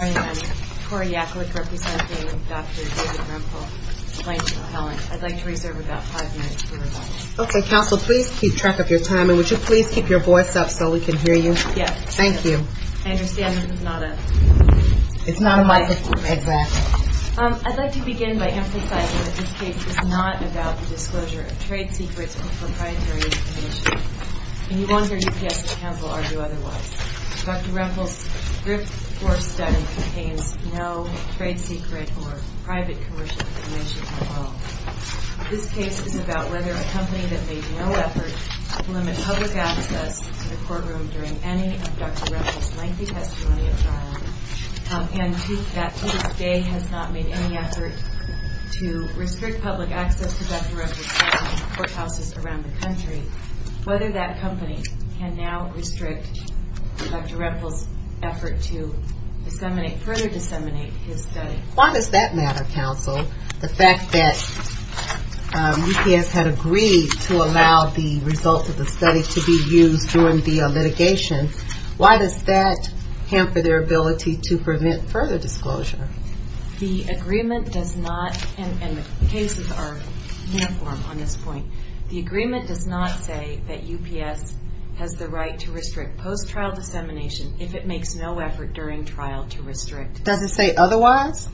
I am Tori Yaklik, representing Dr. David Rempel, plaintiff's appellant. I'd like to reserve about five minutes for rebuttal. Okay, counsel, please keep track of your timing. Would you please keep your voice up so we can hear you? Yes. Thank you. I understand that it's not a microphone. It's not a microphone, exactly. I'd like to begin by emphasizing that this case is not about the disclosure of trade secrets or proprietary information. And you won't hear UPS counsel argue otherwise. Dr. Rempel's grift-forced study contains no trade secret or private commercial information at all. This case is about whether a company that made no effort to limit public access to the courtroom during any of Dr. Rempel's lengthy testimony at trial and to this day has not made any effort to restrict public access to Dr. Rempel's court houses around the country, whether that company can now restrict Dr. Rempel's effort to further disseminate his study. Why does that matter, counsel, the fact that UPS had agreed to allow the results of the study to be used during the litigation? Why does that hamper their ability to prevent further disclosure? The agreement does not, and the cases are uniform on this point. The agreement does not say that UPS has the right to restrict post-trial dissemination if it makes no effort during trial to restrict. Does it say otherwise?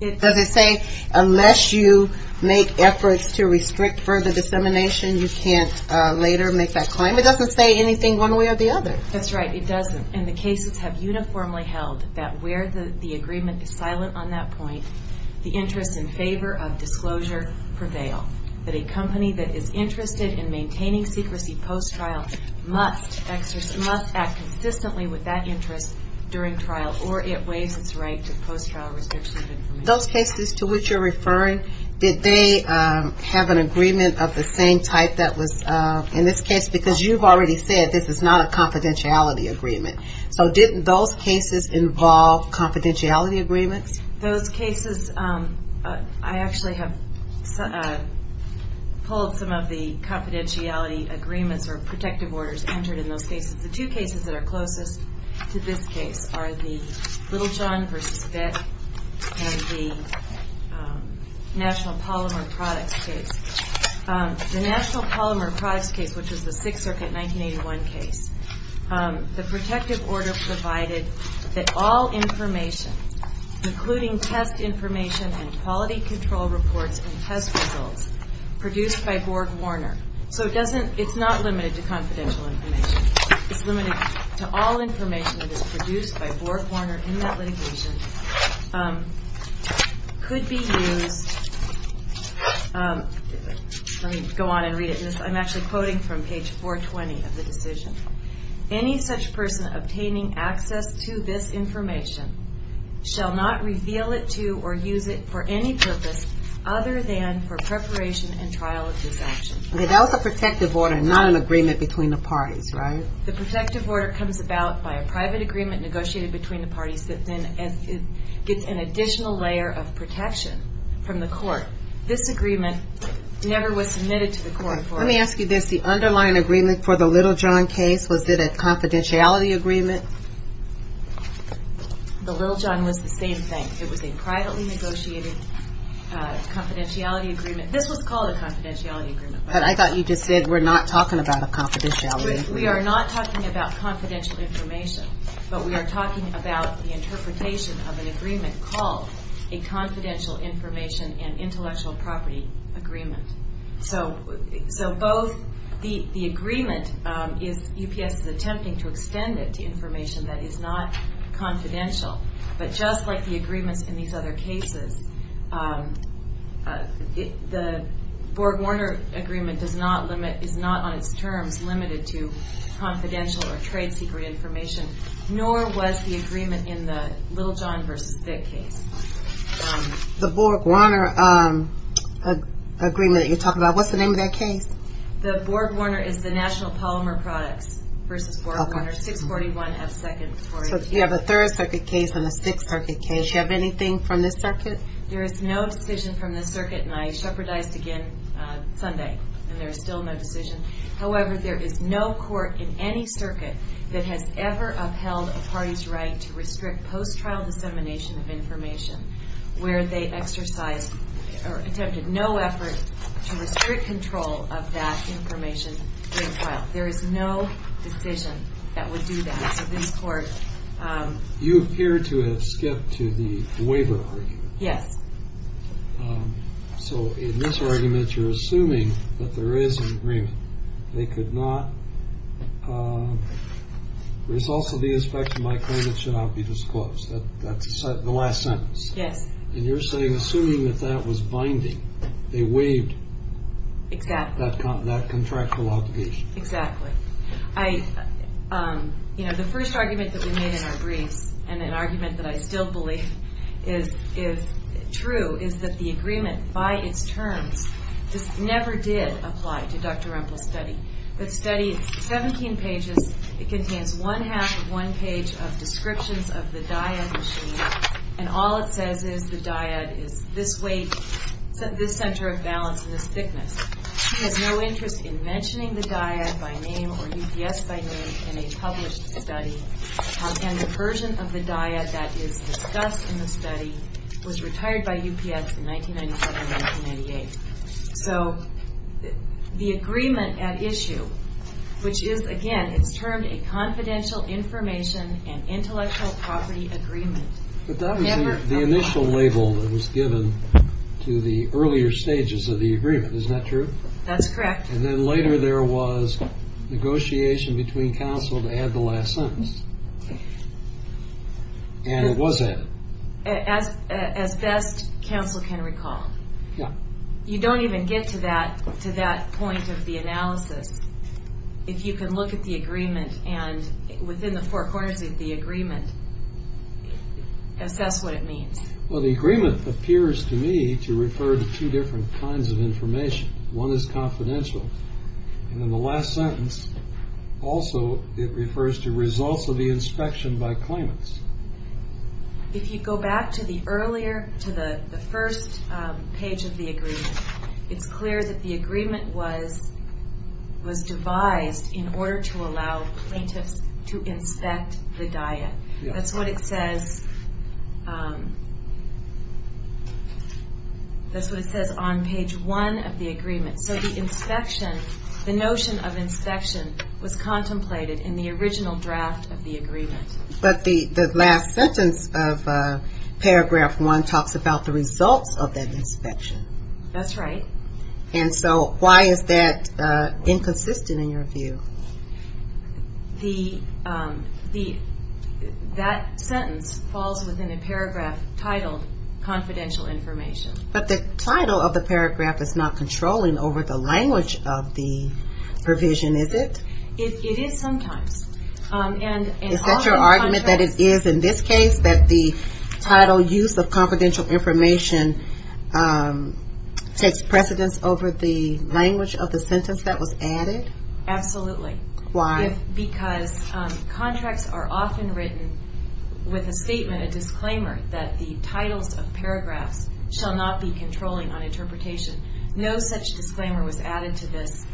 Does it say unless you make efforts to restrict further dissemination, you can't later make that claim? It doesn't say anything one way or the other. That's right. It doesn't, and the cases have uniformly held that where the agreement is silent on that point, the interests in favor of disclosure prevail, that a company that is interested in maintaining secrecy post-trial must act consistently with that interest during trial or it waives its right to post-trial restriction of information. Those cases to which you're referring, did they have an agreement of the same type that was in this case? Because you've already said this is not a confidentiality agreement. So didn't those cases involve confidentiality agreements? Those cases, I actually have pulled some of the confidentiality agreements or protective orders entered in those cases. The two cases that are closest to this case are the Little John v. Fett and the National Polymer Products case. The National Polymer Products case, which was the Sixth Circuit 1981 case, the protective order provided that all information, including test information and quality control reports and test results produced by Borg-Warner, so it doesn't, it's not limited to confidential information. It's limited to all information that is produced by Borg-Warner in that litigation, could be used, let me go on and read it, I'm actually quoting from page 420 of the decision. Any such person obtaining access to this information shall not reveal it to or use it for any purpose other than for preparation and trial of this action. Okay, that was a protective order, not an agreement between the parties, right? The protective order comes about by a private agreement negotiated between the parties that then gets an additional layer of protection from the court. This agreement never was submitted to the court for it. Let me ask you this, the underlying agreement for the Little John case, was it a confidentiality agreement? The Little John was the same thing. It was a privately negotiated confidentiality agreement. This was called a confidentiality agreement. But I thought you just said we're not talking about a confidentiality agreement. We are not talking about confidential information, but we are talking about the interpretation of an agreement called a confidential information and intellectual property agreement. So both the agreement is UPS is attempting to extend it to information that is not confidential, but just like the agreements in these other cases, the Borg-Warner agreement is not on its terms limited to confidential or trade secret information, nor was the agreement in the Little John v. Thick case. The Borg-Warner agreement that you're talking about, what's the name of that case? The Borg-Warner is the National Polymer Products v. Borg-Warner, 641 F. 2nd. So you have a Third Circuit case and a Sixth Circuit case. Do you have anything from this circuit? There is no decision from this circuit, and I shepherdized again Sunday, and there is still no decision. However, there is no court in any circuit that has ever upheld a party's right to restrict post-trial dissemination of information where they exercised or attempted no effort to restrict control of that information during trial. There is no decision that would do that. So this court— You appear to have skipped to the waiver argument. Yes. So in this argument, you're assuming that there is an agreement. They could not—there's also the aspect of my claim it should not be disclosed. That's the last sentence. Yes. And you're saying, assuming that that was binding, they waived that contractual obligation. Exactly. You know, the first argument that we made in our briefs, and an argument that I still believe is true, is that the agreement by its terms never did apply to Dr. Rumpel's study. The study is 17 pages. It contains one-half of one page of descriptions of the dyad machine, and all it says is the dyad is this weight, this center of balance, and this thickness. She has no interest in mentioning the dyad by name or UPS by name in a published study, and the version of the dyad that is discussed in the study was retired by UPS in 1997-1998. So the agreement at issue, which is, again, it's termed a confidential information and intellectual property agreement, But that was the initial label that was given to the earlier stages of the agreement. Isn't that true? That's correct. And then later there was negotiation between counsel to add the last sentence. And it was added. As best counsel can recall. Yeah. You don't even get to that point of the analysis. If you can look at the agreement, and within the four corners of the agreement, assess what it means. Well, the agreement appears to me to refer to two different kinds of information. One is confidential, and in the last sentence, also, it refers to results of the inspection by claimants. If you go back to the earlier, to the first page of the agreement, it's clear that the agreement was devised in order to allow plaintiffs to inspect the dyad. That's what it says on page one of the agreement. So the notion of inspection was contemplated in the original draft of the agreement. But the last sentence of paragraph one talks about the results of that inspection. That's right. And so why is that inconsistent in your view? That sentence falls within a paragraph titled confidential information. But the title of the paragraph is not controlling over the language of the provision, is it? It is sometimes. Is that your argument, that it is in this case, that the title use of confidential information takes precedence over the language of the sentence that was added? Absolutely. Why? Because contracts are often written with a statement, a disclaimer, that the titles of paragraphs shall not be controlling on interpretation. No such disclaimer was added to this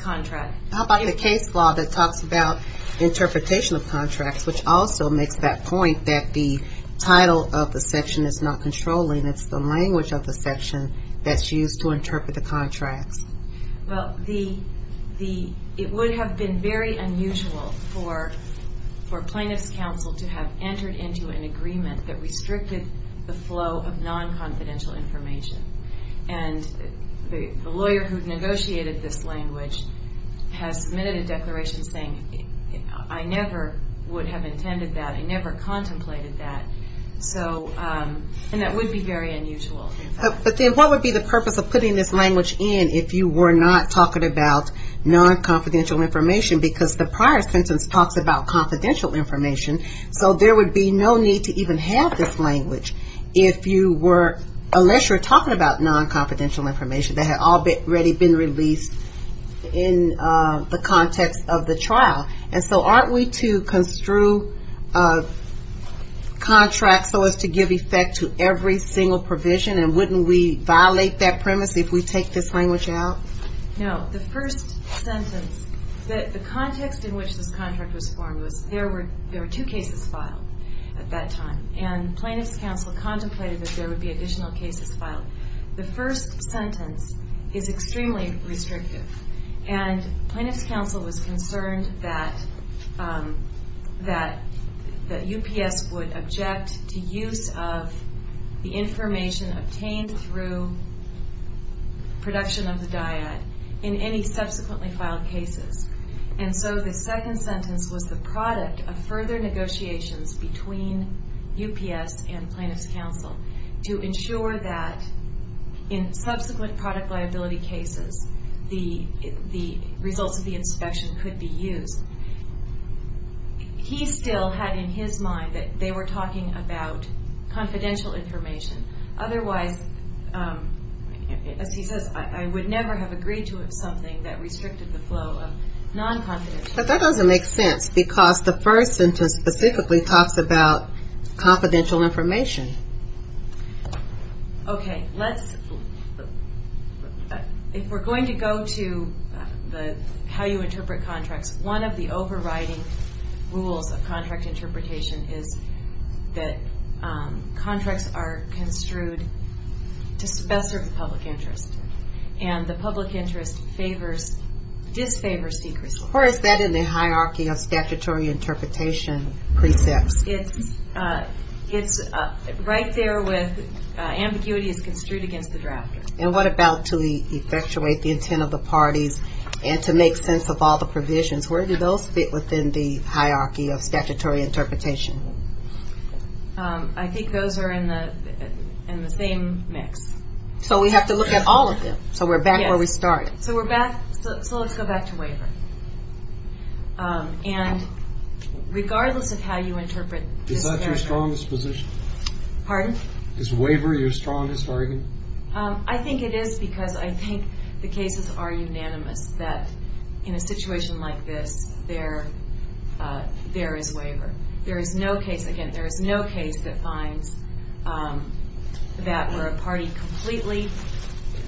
contract. How about the case law that talks about interpretation of contracts, which also makes that point that the title of the section is not controlling. It's the language of the section that's used to interpret the contracts. Well, it would have been very unusual for Plaintiffs' Counsel to have entered into an agreement that restricted the flow of non-confidential information. And the lawyer who negotiated this language has submitted a declaration saying, I never would have intended that. I never contemplated that. And that would be very unusual. But then what would be the purpose of putting this language in if you were not talking about non-confidential information? Because the prior sentence talks about confidential information, so there would be no need to even have this language unless you were talking about non-confidential information that had already been released in the context of the trial. And so aren't we to construe contracts so as to give effect to every single provision, and wouldn't we violate that premise if we take this language out? No. The first sentence, the context in which this contract was formed was there were two cases filed at that time, and Plaintiffs' Counsel contemplated that there would be additional cases filed. The first sentence is extremely restrictive, and Plaintiffs' Counsel was concerned that UPS would object to use of the information obtained through production of the dyad in any subsequently filed cases. And so the second sentence was the product of further negotiations between UPS and Plaintiffs' Counsel to ensure that in subsequent product liability cases, the results of the inspection could be used. He still had in his mind that they were talking about confidential information. Otherwise, as he says, I would never have agreed to something that restricted the flow of non-confidential information. But that doesn't make sense, because the first sentence specifically talks about confidential information. Okay. If we're going to go to how you interpret contracts, one of the overriding rules of contract interpretation is that contracts are construed to best serve the public interest, and the public interest disfavors secrecy. Or is that in the hierarchy of statutory interpretation precepts? It's right there with ambiguity is construed against the drafter. And what about to effectuate the intent of the parties and to make sense of all the provisions? Where do those fit within the hierarchy of statutory interpretation? I think those are in the same mix. So we have to look at all of them. So we're back where we started. So we're back. So let's go back to waiver. And regardless of how you interpret this narrative. Is that your strongest position? Pardon? Is waiver your strongest argument? I think it is because I think the cases are unanimous that in a situation like this there is waiver. There is no case, again, there is no case that finds that where a party completely,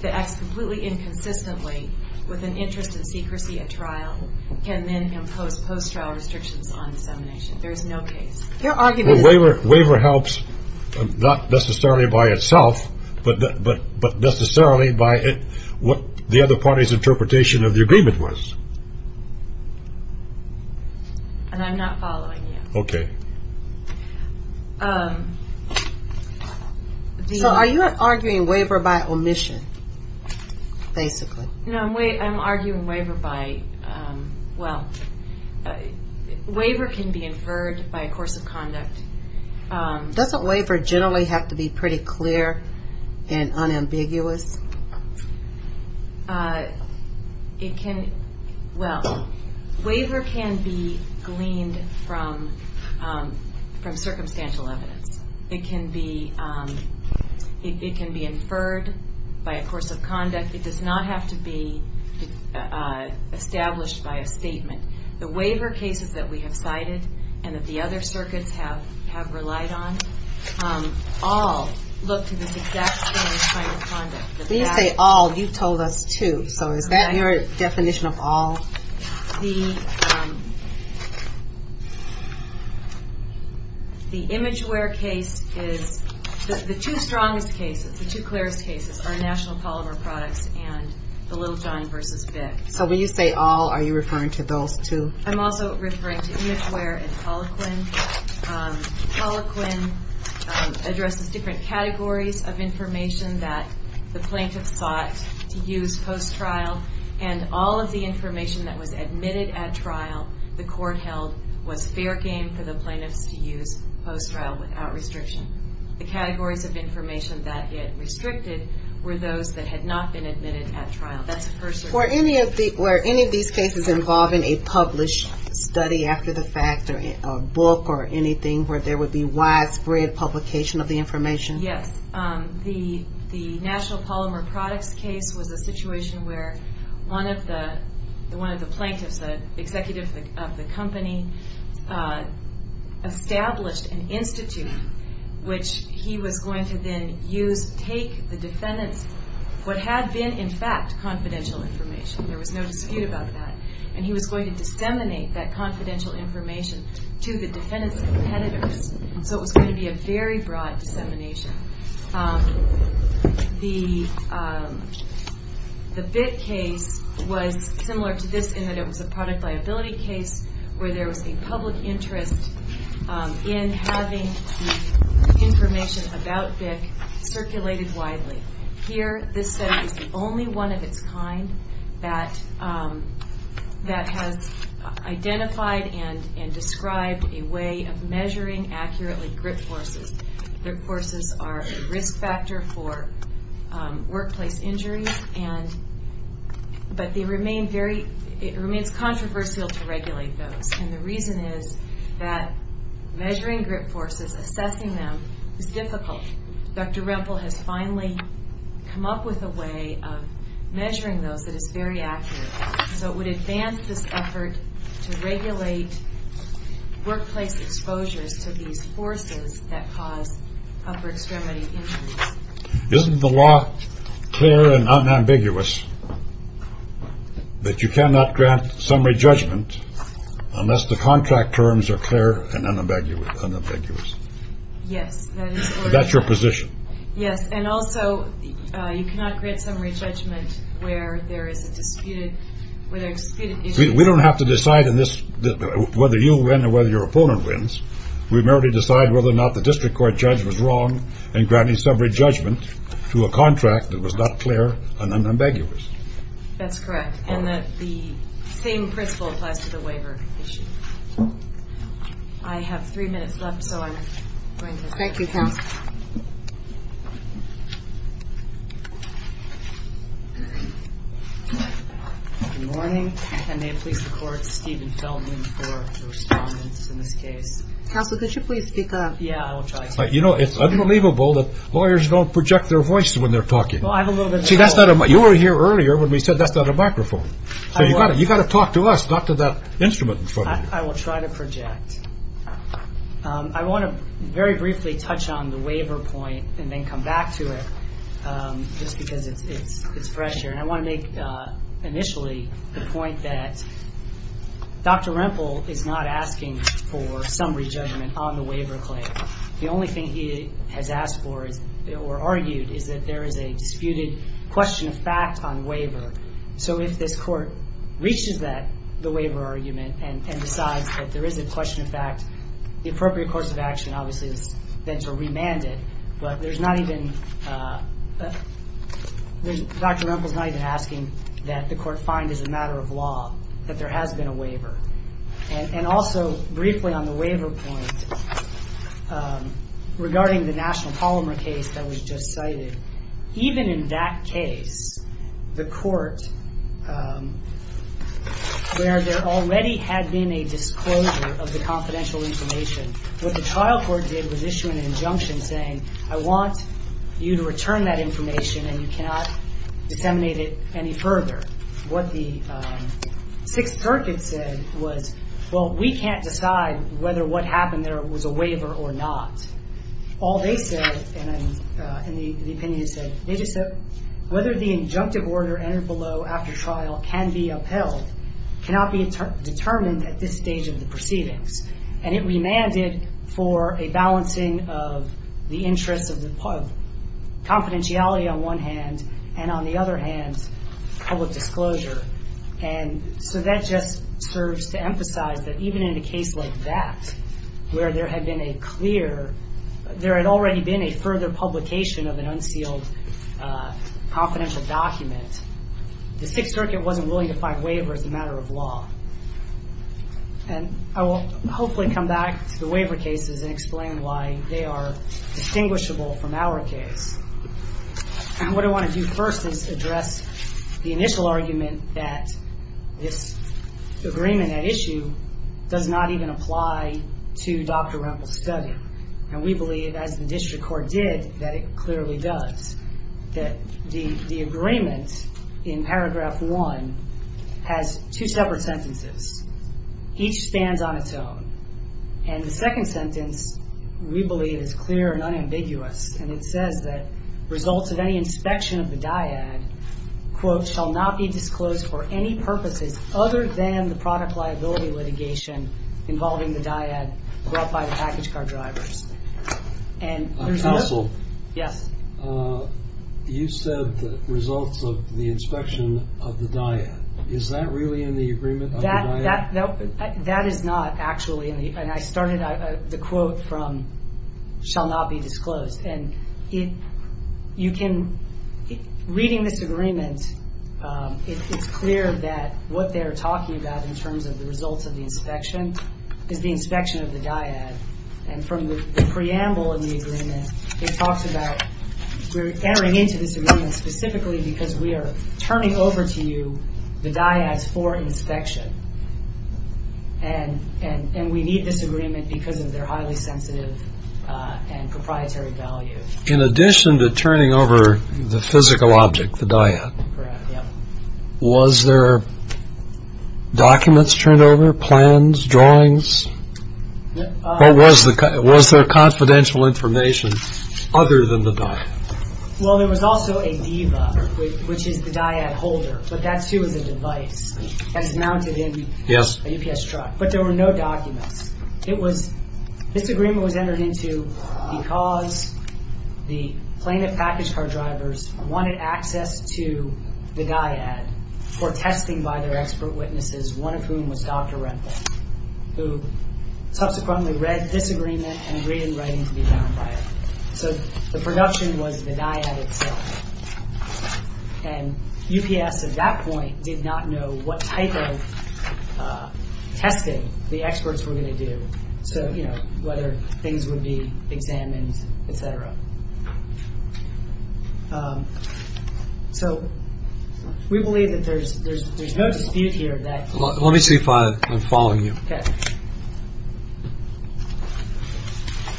that acts completely inconsistently with an interest in secrecy at trial can then impose post-trial restrictions on dissemination. There is no case. Your argument is. Well, waiver helps not necessarily by itself, but necessarily by what the other party's interpretation of the agreement was. And I'm not following you. Okay. So are you arguing waiver by omission, basically? No, I'm arguing waiver by, well, waiver can be inferred by a course of conduct. Doesn't waiver generally have to be pretty clear and unambiguous? It can, well, waiver can be gleaned from circumstantial evidence. It can be inferred by a course of conduct. It does not have to be established by a statement. The waiver cases that we have cited and that the other circuits have relied on all look to this exact same kind of conduct. When you say all, you told us to. So is that your definition of all? The image wear case is the two strongest cases, the two clearest cases are National Polymer Products and the Little John v. BIC. So when you say all, are you referring to those two? I'm also referring to image wear and polyquin. Polyquin addresses different categories of information that the plaintiff sought to use post-trial, and all of the information that was admitted at trial, the court held, was fair game for the plaintiffs to use post-trial without restriction. The categories of information that it restricted were those that had not been admitted at trial. Were any of these cases involving a published study after the fact or a book or anything where there would be widespread publication of the information? Yes. The National Polymer Products case was a situation where one of the plaintiffs, the executive of the company, established an institute which he was going to then use, take the defendant's what had been, in fact, confidential information. There was no dispute about that. And he was going to disseminate that confidential information to the defendant's competitors. So it was going to be a very broad dissemination. The BIC case was similar to this in that it was a product liability case where there was a public interest in having the information about BIC circulated widely. Here, this study is the only one of its kind that has identified and described a way of measuring accurately grip forces. Grip forces are a risk factor for workplace injuries, but it remains controversial to regulate those. And the reason is that measuring grip forces, assessing them, is difficult. Dr. Rempel has finally come up with a way of measuring those that is very accurate. So it would advance this effort to regulate workplace exposures to these forces that cause upper extremity injuries. Isn't the law clear and unambiguous that you cannot grant summary judgment unless the contract terms are clear and unambiguous? Yes, that is correct. That's your position? Yes, and also you cannot grant summary judgment where there is a disputed issue. We don't have to decide in this whether you win or whether your opponent wins. We merely decide whether or not the district court judge was wrong in granting summary judgment to a contract that was not clear and unambiguous. That's correct, and the same principle applies to the waiver issue. I have three minutes left, so I'm going to stop. Thank you, counsel. Good morning, and may it please the court. Steven Feldman for the respondents in this case. Counsel, could you please speak up? Yeah, I will try to. You know, it's unbelievable that lawyers don't project their voice when they're talking. Well, I have a little bit of trouble. See, you were here earlier when we said that's not a microphone. So you've got to talk to us, not to that instrument in front of you. I will try to project. I want to very briefly touch on the waiver point and then come back to it, just because it's fresh here. And I want to make initially the point that Dr. Rempel is not asking for summary judgment on the waiver claim. The only thing he has asked for or argued is that there is a disputed question of fact on waiver. So if this court reaches the waiver argument and decides that there is a question of fact, the appropriate course of action, obviously, is then to remand it. But Dr. Rempel is not even asking that the court find as a matter of law that there has been a waiver. And also, briefly on the waiver point, regarding the National Polymer case that was just cited, even in that case, the court, where there already had been a disclosure of the confidential information, what the trial court did was issue an injunction saying, I want you to return that information and you cannot disseminate it any further. What the Sixth Circuit said was, well, we can't decide whether what happened there was a waiver or not. All they said, and the opinion said, they just said whether the injunctive order entered below after trial can be upheld, cannot be determined at this stage of the proceedings. And it remanded for a balancing of the interests of confidentiality on one hand, and on the other hand, public disclosure. And so that just serves to emphasize that even in a case like that, where there had been a clear, there had already been a further publication of an unsealed confidential document, the Sixth Circuit wasn't willing to find waiver as a matter of law. And I will hopefully come back to the waiver cases and explain why they are distinguishable from our case. And what I want to do first is address the initial argument that this agreement at issue does not even apply to Dr. Rempel's study. And we believe, as the district court did, that it clearly does. That the agreement in paragraph one has two separate sentences. Each stands on its own. And the second sentence, we believe, is clear and unambiguous. And it says that results of any inspection of the dyad, quote, shall not be disclosed for any purposes other than the product liability litigation involving the dyad brought by the package car drivers. And there's no- Counsel. Yes. You said the results of the inspection of the dyad. Is that really in the agreement of the dyad? That is not, actually. And I started the quote from shall not be disclosed. And you can, reading this agreement, it's clear that what they're talking about in terms of the results of the inspection is the inspection of the dyad. And from the preamble of the agreement, it talks about we're entering into this agreement specifically because we are turning over to you the dyads for inspection. And we need this agreement because of their highly sensitive and proprietary value. In addition to turning over the physical object, the dyad, was there documents turned over, plans, drawings? Was there confidential information other than the dyad? Well, there was also a diva, which is the dyad holder. But that, too, is a device that's mounted in a UPS truck. But there were no documents. This agreement was entered into because the plaintiff package car drivers wanted access to the dyad for testing by their expert witnesses, one of whom was Dr. Rempel, who subsequently read this agreement and agreed in writing to be bound by it. So the production was the dyad itself. And UPS, at that point, did not know what type of testing the experts were going to do. So, you know, whether things would be examined, et cetera. So we believe that there's no dispute here that… Okay.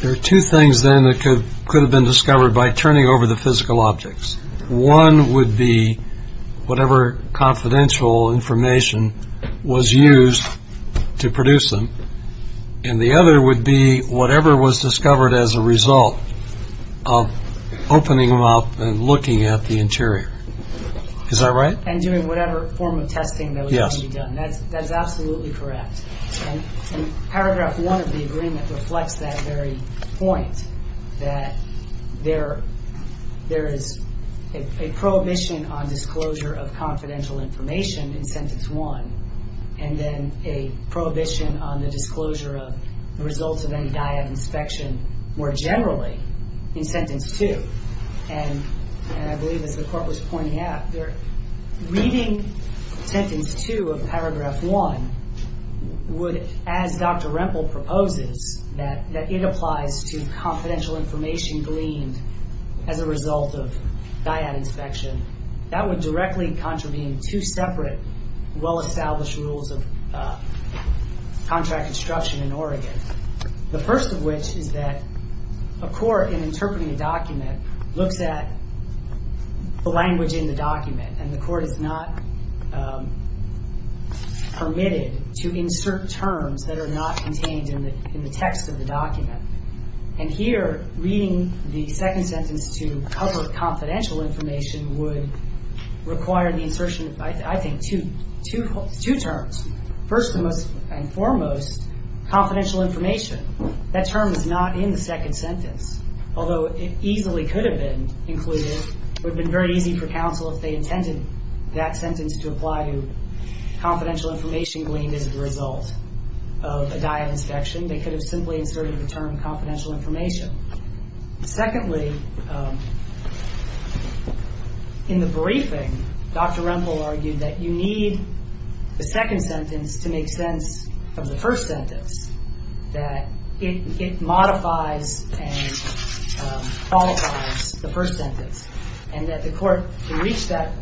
There are two things, then, that could have been discovered by turning over the physical objects. One would be whatever confidential information was used to produce them. And the other would be whatever was discovered as a result of opening them up and looking at the interior. Is that right? And doing whatever form of testing that was going to be done. Yes. That is absolutely correct. And Paragraph 1 of the agreement reflects that very point, that there is a prohibition on disclosure of confidential information in Sentence 1, and then a prohibition on the disclosure of the results of any dyad inspection more generally in Sentence 2. And I believe, as the Court was pointing out, reading Sentence 2 of Paragraph 1 would, as Dr. Rempel proposes, that it applies to confidential information gleaned as a result of dyad inspection. That would directly contravene two separate well-established rules of contract instruction in Oregon. The first of which is that a court, in interpreting a document, looks at the language in the document, and the court is not permitted to insert terms that are not contained in the text of the document. And here, reading the second sentence to cover confidential information would require the insertion of, I think, two terms. First and foremost, confidential information. That term is not in the second sentence, although it easily could have been included. It would have been very easy for counsel if they intended that sentence to apply to confidential information gleaned as a result of a dyad inspection. They could have simply inserted the term confidential information. Secondly, in the briefing, Dr. Rempel argued that you need the second sentence to make sense of the first sentence, that it modifies and qualifies the first sentence, and that the court should reach that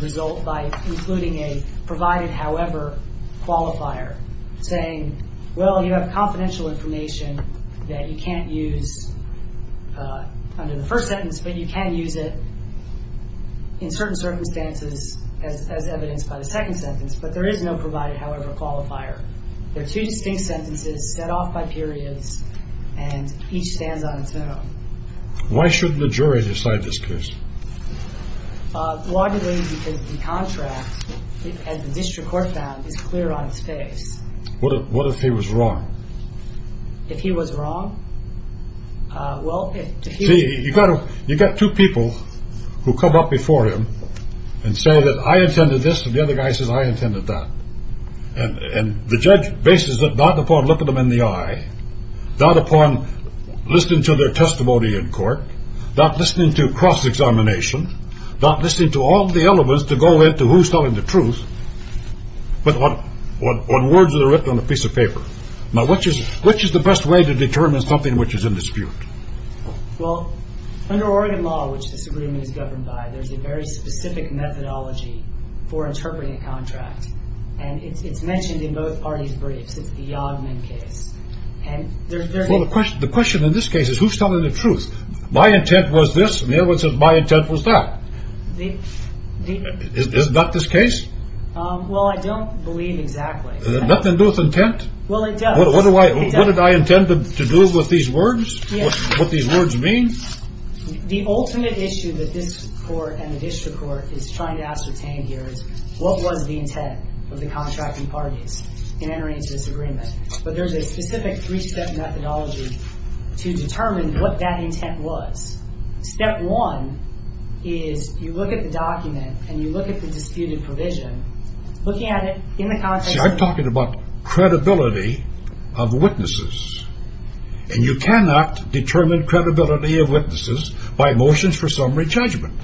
result by including a provided however qualifier, saying, well, you have confidential information that you can't use under the first sentence, but you can use it in certain circumstances as evidenced by the second sentence. But there is no provided however qualifier. They're two distinct sentences set off by periods, and each stands on its own. Why should the jury decide this case? Broadly, because the contract, as the district court found, is clear on its face. What if he was wrong? If he was wrong? Well, if he was wrong. See, you've got two people who come up before him and say that I intended this, and the other guy says I intended that. And the judge bases it not upon looking them in the eye, not upon listening to their testimony in court, not listening to cross-examination, not listening to all the elements to go into who's telling the truth, but on words that are written on a piece of paper. Now, which is the best way to determine something which is in dispute? Well, under Oregon law, which this agreement is governed by, there's a very specific methodology for interpreting a contract, and it's mentioned in both parties' briefs. It's the Yodman case. Well, the question in this case is who's telling the truth? My intent was this, and the other one says my intent was that. Is this not this case? Well, I don't believe exactly. Does it have nothing to do with intent? Well, it does. What did I intend to do with these words, what these words mean? The ultimate issue that this court and the district court is trying to ascertain here is what was the intent of the contracting parties in entering into this agreement? But there's a specific three-step methodology to determine what that intent was. Step one is you look at the document and you look at the disputed provision. Looking at it in the context of the- See, I'm talking about credibility of witnesses, and you cannot determine credibility of witnesses by motions for summary judgment.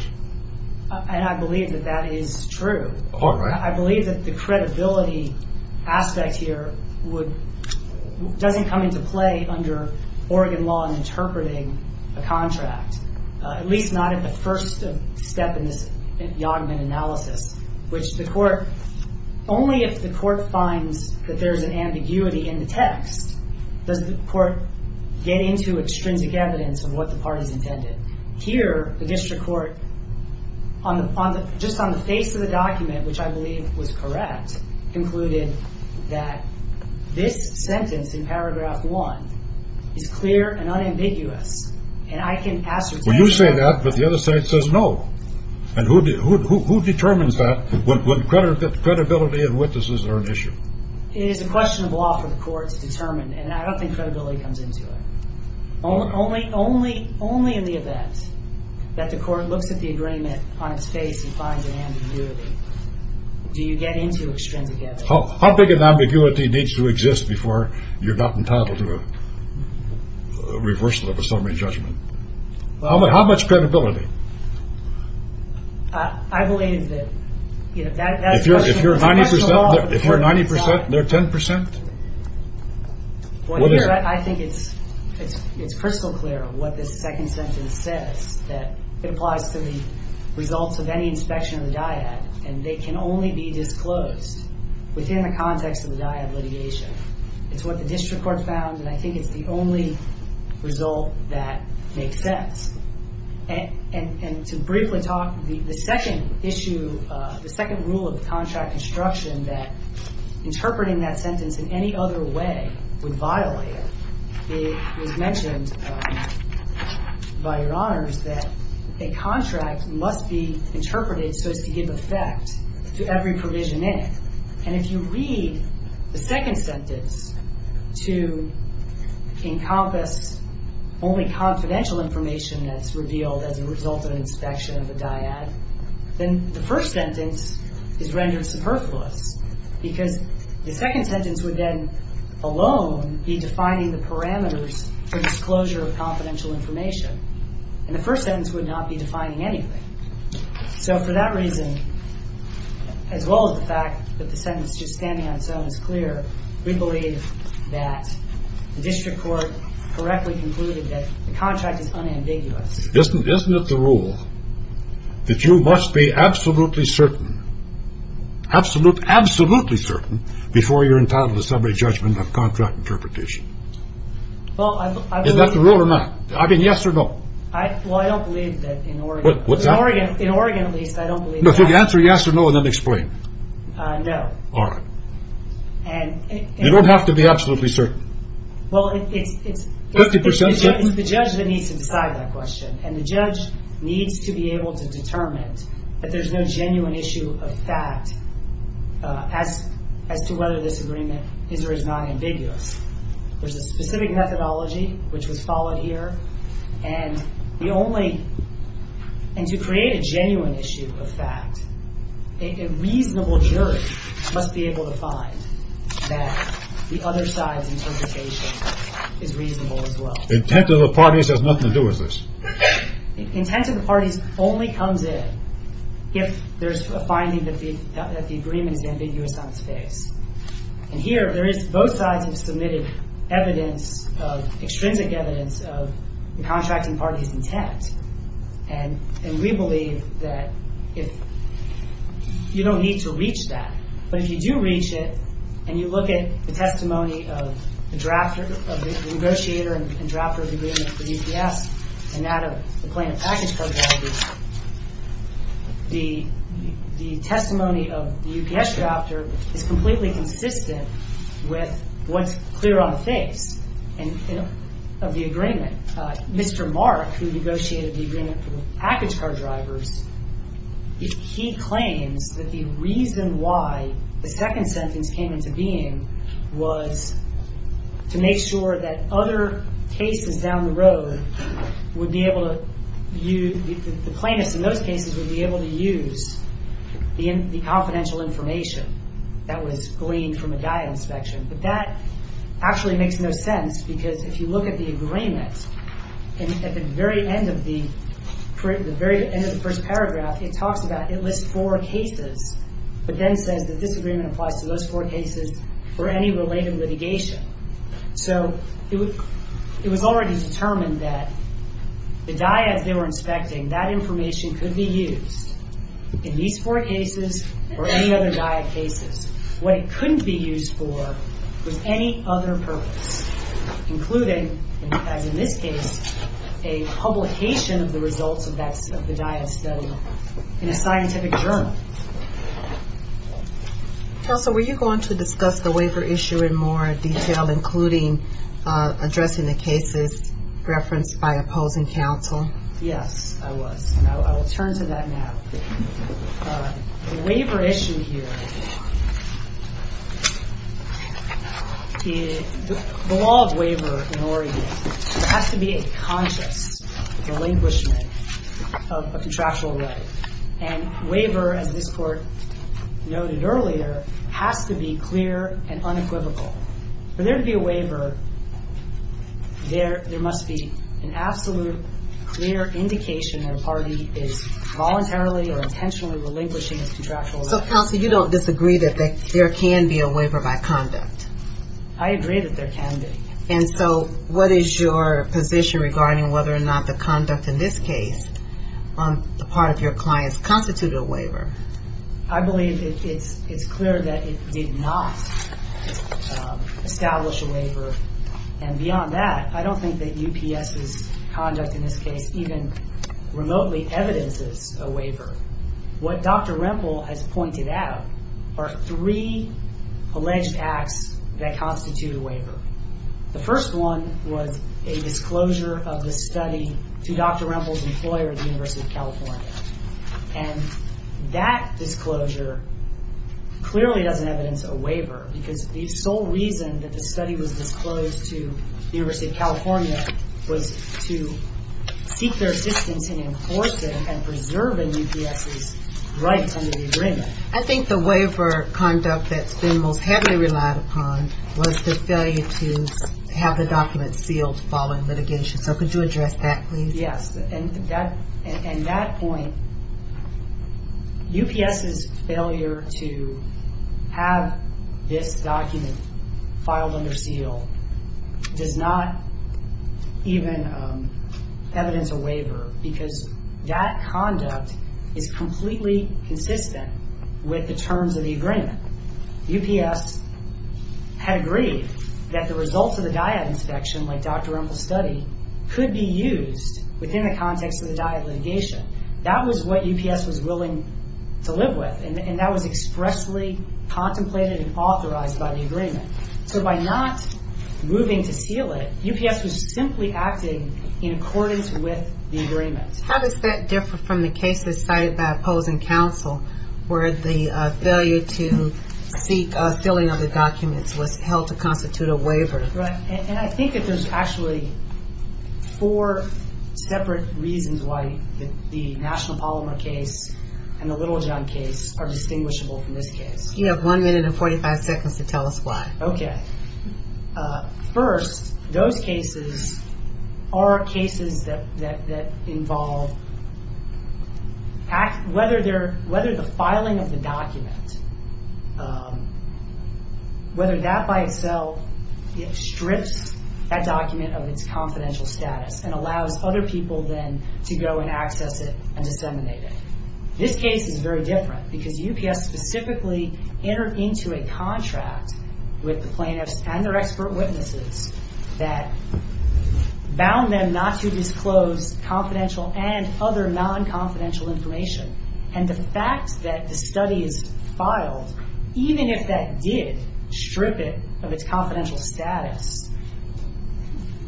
And I believe that that is true. All right. I believe that the credibility aspect here doesn't come into play under Oregon law in interpreting a contract, at least not at the first step in this Yodman analysis, which the court- Only if the court finds that there's an ambiguity in the text does the court get into extrinsic evidence of what the parties intended. Here, the district court, just on the face of the document, which I believe was correct, concluded that this sentence in paragraph one is clear and unambiguous, and I can ascertain- Well, you say that, but the other side says no. And who determines that when credibility of witnesses are an issue? It is a question of law for the court to determine, and I don't think credibility comes into it. Only in the event that the court looks at the agreement on its face and finds an ambiguity do you get into extrinsic evidence. How big an ambiguity needs to exist before you're not entitled to a reversal of a summary judgment? How much credibility? I believe that- If you're 90 percent, they're 10 percent? I think it's crystal clear what this second sentence says, that it applies to the results of any inspection of the dyad, and they can only be disclosed within the context of the dyad litigation. It's what the district court found, and I think it's the only result that makes sense. And to briefly talk, the second issue, the second rule of contract instruction, that interpreting that sentence in any other way would violate it. It was mentioned by Your Honors that a contract must be interpreted so as to give effect to every provision in it. And if you read the second sentence to encompass only confidential information that's revealed as a result of an inspection of the dyad, then the first sentence is rendered superfluous, because the second sentence would then alone be defining the parameters for disclosure of confidential information, and the first sentence would not be defining anything. So for that reason, as well as the fact that the sentence just standing on its own is clear, we believe that the district court correctly concluded that the contract is unambiguous. Isn't it the rule that you must be absolutely certain, absolutely certain, before you're entitled to summary judgment of contract interpretation? Is that the rule or not? I mean, yes or no? Well, I don't believe that in Oregon. In Oregon, at least, I don't believe that. If you answer yes or no, then explain. No. All right. You don't have to be absolutely certain. Well, it's the judge that needs to decide that question, and the judge needs to be able to determine that there's no genuine issue of fact as to whether this agreement is or is not ambiguous. There's a specific methodology which was followed here, and the only – and to create a genuine issue of fact, a reasonable jury must be able to find that the other side's interpretation is reasonable as well. Intent of the parties has nothing to do with this. Intent of the parties only comes in if there's a finding that the agreement is ambiguous on its face. And here, there is – both sides have submitted evidence, extrinsic evidence of the contracting party's intent, and we believe that if – you don't need to reach that. But if you do reach it, and you look at the testimony of the drafter, of the negotiator and drafter of the agreement for UPS, and that of the plaintiff package program, the testimony of the UPS drafter is completely consistent with what's clear on the face of the agreement. Mr. Mark, who negotiated the agreement for the package car drivers, he claims that the reason why the second sentence came into being was to make sure that other cases down the road would be able to use – the plaintiffs in those cases would be able to use the confidential information that was gleaned from a diet inspection. But that actually makes no sense, because if you look at the agreement, at the very end of the first paragraph, it talks about – it lists four cases, but then says that this agreement applies to those four cases for any related litigation. So it was already determined that the diets they were inspecting, that information could be used in these four cases or any other diet cases. What it couldn't be used for was any other purpose, including, as in this case, a publication of the results of the diet study in a scientific journal. Counsel, were you going to discuss the waiver issue in more detail, including addressing the cases referenced by opposing counsel? Yes, I was, and I will turn to that now. The waiver issue here – the law of waiver in Oregon, there has to be a conscious relinquishment of a contractual right. And waiver, as this Court noted earlier, has to be clear and unequivocal. For there to be a waiver, there must be an absolute clear indication that a party is voluntarily or intentionally relinquishing its contractual right. So, counsel, you don't disagree that there can be a waiver by conduct? I agree that there can be. And so what is your position regarding whether or not the conduct in this case, on the part of your clients, constituted a waiver? I believe it's clear that it did not establish a waiver. And beyond that, I don't think that UPS's conduct in this case even remotely evidences a waiver. What Dr. Rempel has pointed out are three alleged acts that constitute a waiver. The first one was a disclosure of the study to Dr. Rempel's employer at the University of California. And that disclosure clearly doesn't evidence a waiver because the sole reason that the study was disclosed to the University of California was to seek their assistance in enforcing and preserving UPS's rights under the agreement. I think the waiver conduct that's been most heavily relied upon was the failure to have the document sealed following litigation. So could you address that, please? Yes, and that point, UPS's failure to have this document filed under seal does not even evidence a waiver because that conduct is completely consistent with the terms of the agreement. UPS had agreed that the results of the dyad inspection, like Dr. Rempel's study, could be used within the context of the dyad litigation. That was what UPS was willing to live with, and that was expressly contemplated and authorized by the agreement. So by not moving to seal it, UPS was simply acting in accordance with the agreement. How does that differ from the cases cited by opposing counsel where the failure to seek a filling of the documents was held to constitute a waiver? Right, and I think that there's actually four separate reasons why the National Polymer case and the Littlejohn case are distinguishable from this case. You have one minute and 45 seconds to tell us why. Okay. First, those cases are cases that involve whether the filing of the document, whether that by itself strips that document of its confidential status and allows other people then to go and access it and disseminate it. This case is very different because UPS specifically entered into a contract with the plaintiffs and their expert witnesses that bound them not to disclose confidential and other non-confidential information. And the fact that the study is filed, even if that did strip it of its confidential status,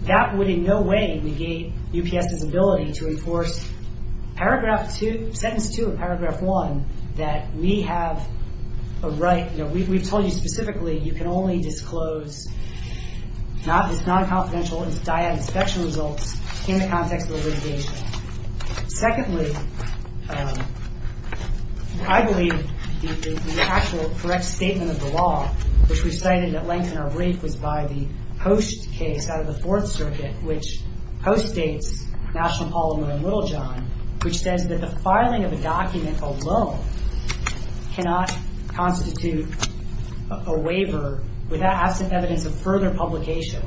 that would in no way negate UPS's ability to enforce paragraph two, sentence two of paragraph one, that we have a right, we've told you specifically you can only disclose non-confidential and dyad inspection results in the context of the litigation. Secondly, I believe the actual correct statement of the law, which we cited at length in our brief, was by the Post case out of the Fourth Circuit, which postdates National Polymer and Littlejohn, which says that the filing of a document alone cannot constitute a waiver without absent evidence of further publication.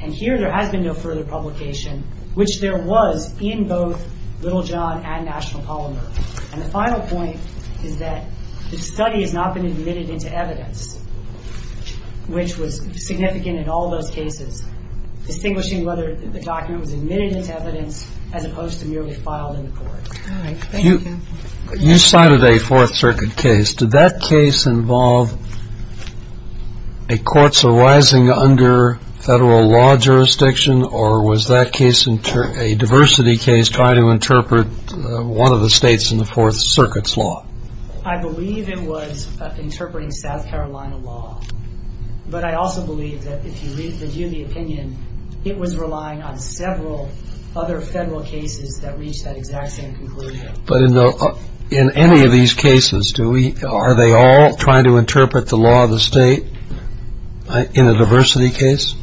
And here there has been no further publication, which there was in both Littlejohn and National Polymer. And the final point is that the study has not been admitted into evidence, which was significant in all those cases, distinguishing whether the document was admitted into evidence as opposed to merely filed in the court. All right. Thank you. You cited a Fourth Circuit case. Did that case involve a court's arising under federal law jurisdiction, or was that case a diversity case trying to interpret one of the states in the Fourth Circuit's law? I believe it was interpreting South Carolina law. But I also believe that if you review the opinion, it was relying on several other federal cases that reached that exact same conclusion. But in any of these cases, are they all trying to interpret the law of the state in a diversity case?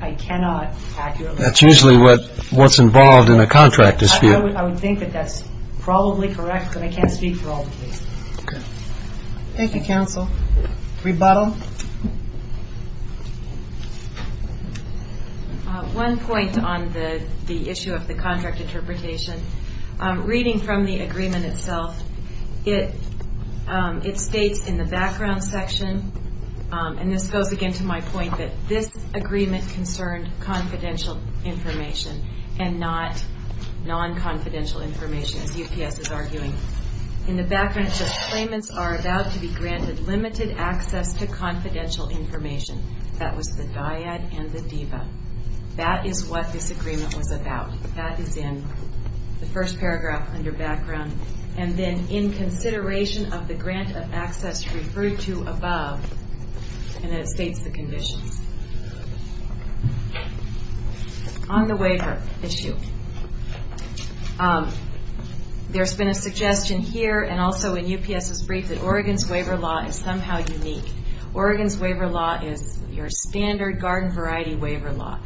I cannot accurately say. That's usually what's involved in a contract dispute. I would think that that's probably correct, but I can't speak for all the cases. Okay. Thank you, counsel. Rebuttal. One point on the issue of the contract interpretation. Reading from the agreement itself, it states in the background section, and this goes again to my point that this agreement concerned confidential information and not non-confidential information, as UPS is arguing. In the background, it says, Claimants are about to be granted limited access to confidential information. That was the dyad and the diva. That is what this agreement was about. That is in the first paragraph under background. And then in consideration of the grant of access referred to above. And it states the conditions. On the waiver issue, there's been a suggestion here and also in UPS's brief that Oregon's waiver law is somehow unique. Oregon's waiver law is your standard garden variety waiver law.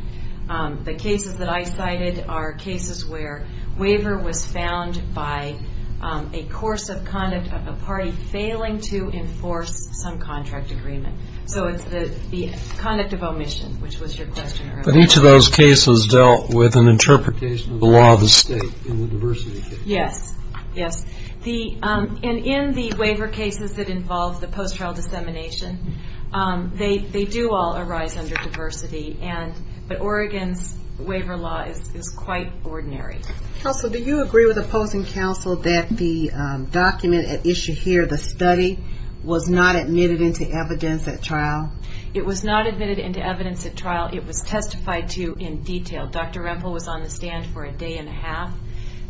The cases that I cited are cases where waiver was found by a course of conduct of a party failing to enforce some contract agreement. So it's the conduct of omission, which was your question earlier. But each of those cases dealt with an interpretation of the law of the state in the diversity case. Yes. And in the waiver cases that involve the post-trial dissemination, they do all arise under diversity. But Oregon's waiver law is quite ordinary. Counsel, do you agree with opposing counsel that the document at issue here, the study, was not admitted into evidence at trial? It was not admitted into evidence at trial. It was testified to in detail. Dr. Rempel was on the stand for a day and a half.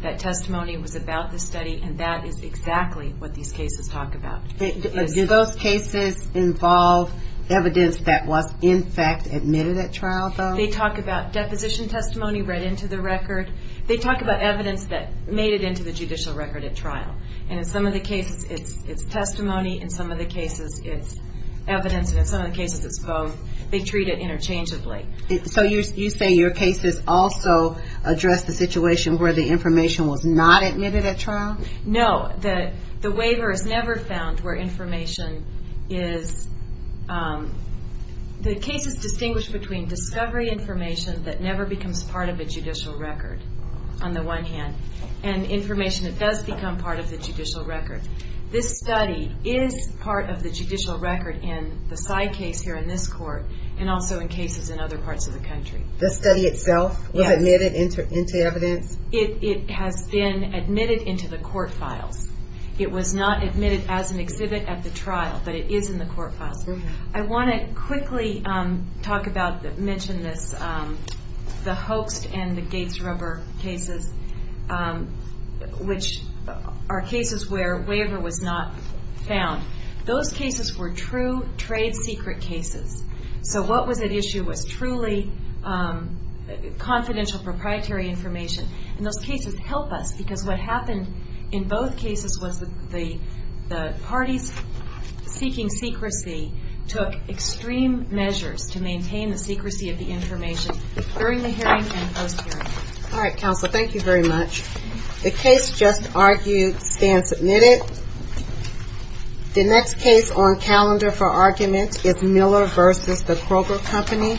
That testimony was about the study, and that is exactly what these cases talk about. Do those cases involve evidence that was, in fact, admitted at trial, though? They talk about deposition testimony read into the record. They talk about evidence that made it into the judicial record at trial. And in some of the cases, it's testimony. In some of the cases, it's evidence. And in some of the cases, it's both. They treat it interchangeably. So you say your cases also address the situation where the information was not admitted at trial? No. The waiver is never found where information is. The case is distinguished between discovery information that never becomes part of a judicial record, on the one hand, and information that does become part of the judicial record. This study is part of the judicial record in the side case here in this court, and also in cases in other parts of the country. This study itself was admitted into evidence? It has been admitted into the court files. It was not admitted as an exhibit at the trial, but it is in the court files. I want to quickly talk about, mention this, the hoaxed and the Gates rubber cases, which are cases where waiver was not found. Those cases were true trade secret cases. So what was at issue was truly confidential proprietary information. And those cases help us because what happened in both cases was the parties seeking secrecy took extreme measures to maintain the secrecy of the information during the hearing and post-hearing. All right, counsel. Thank you very much. The case just argued stands admitted. The next case on calendar for argument is Miller v. The Kroger Company. Counsel, please proceed.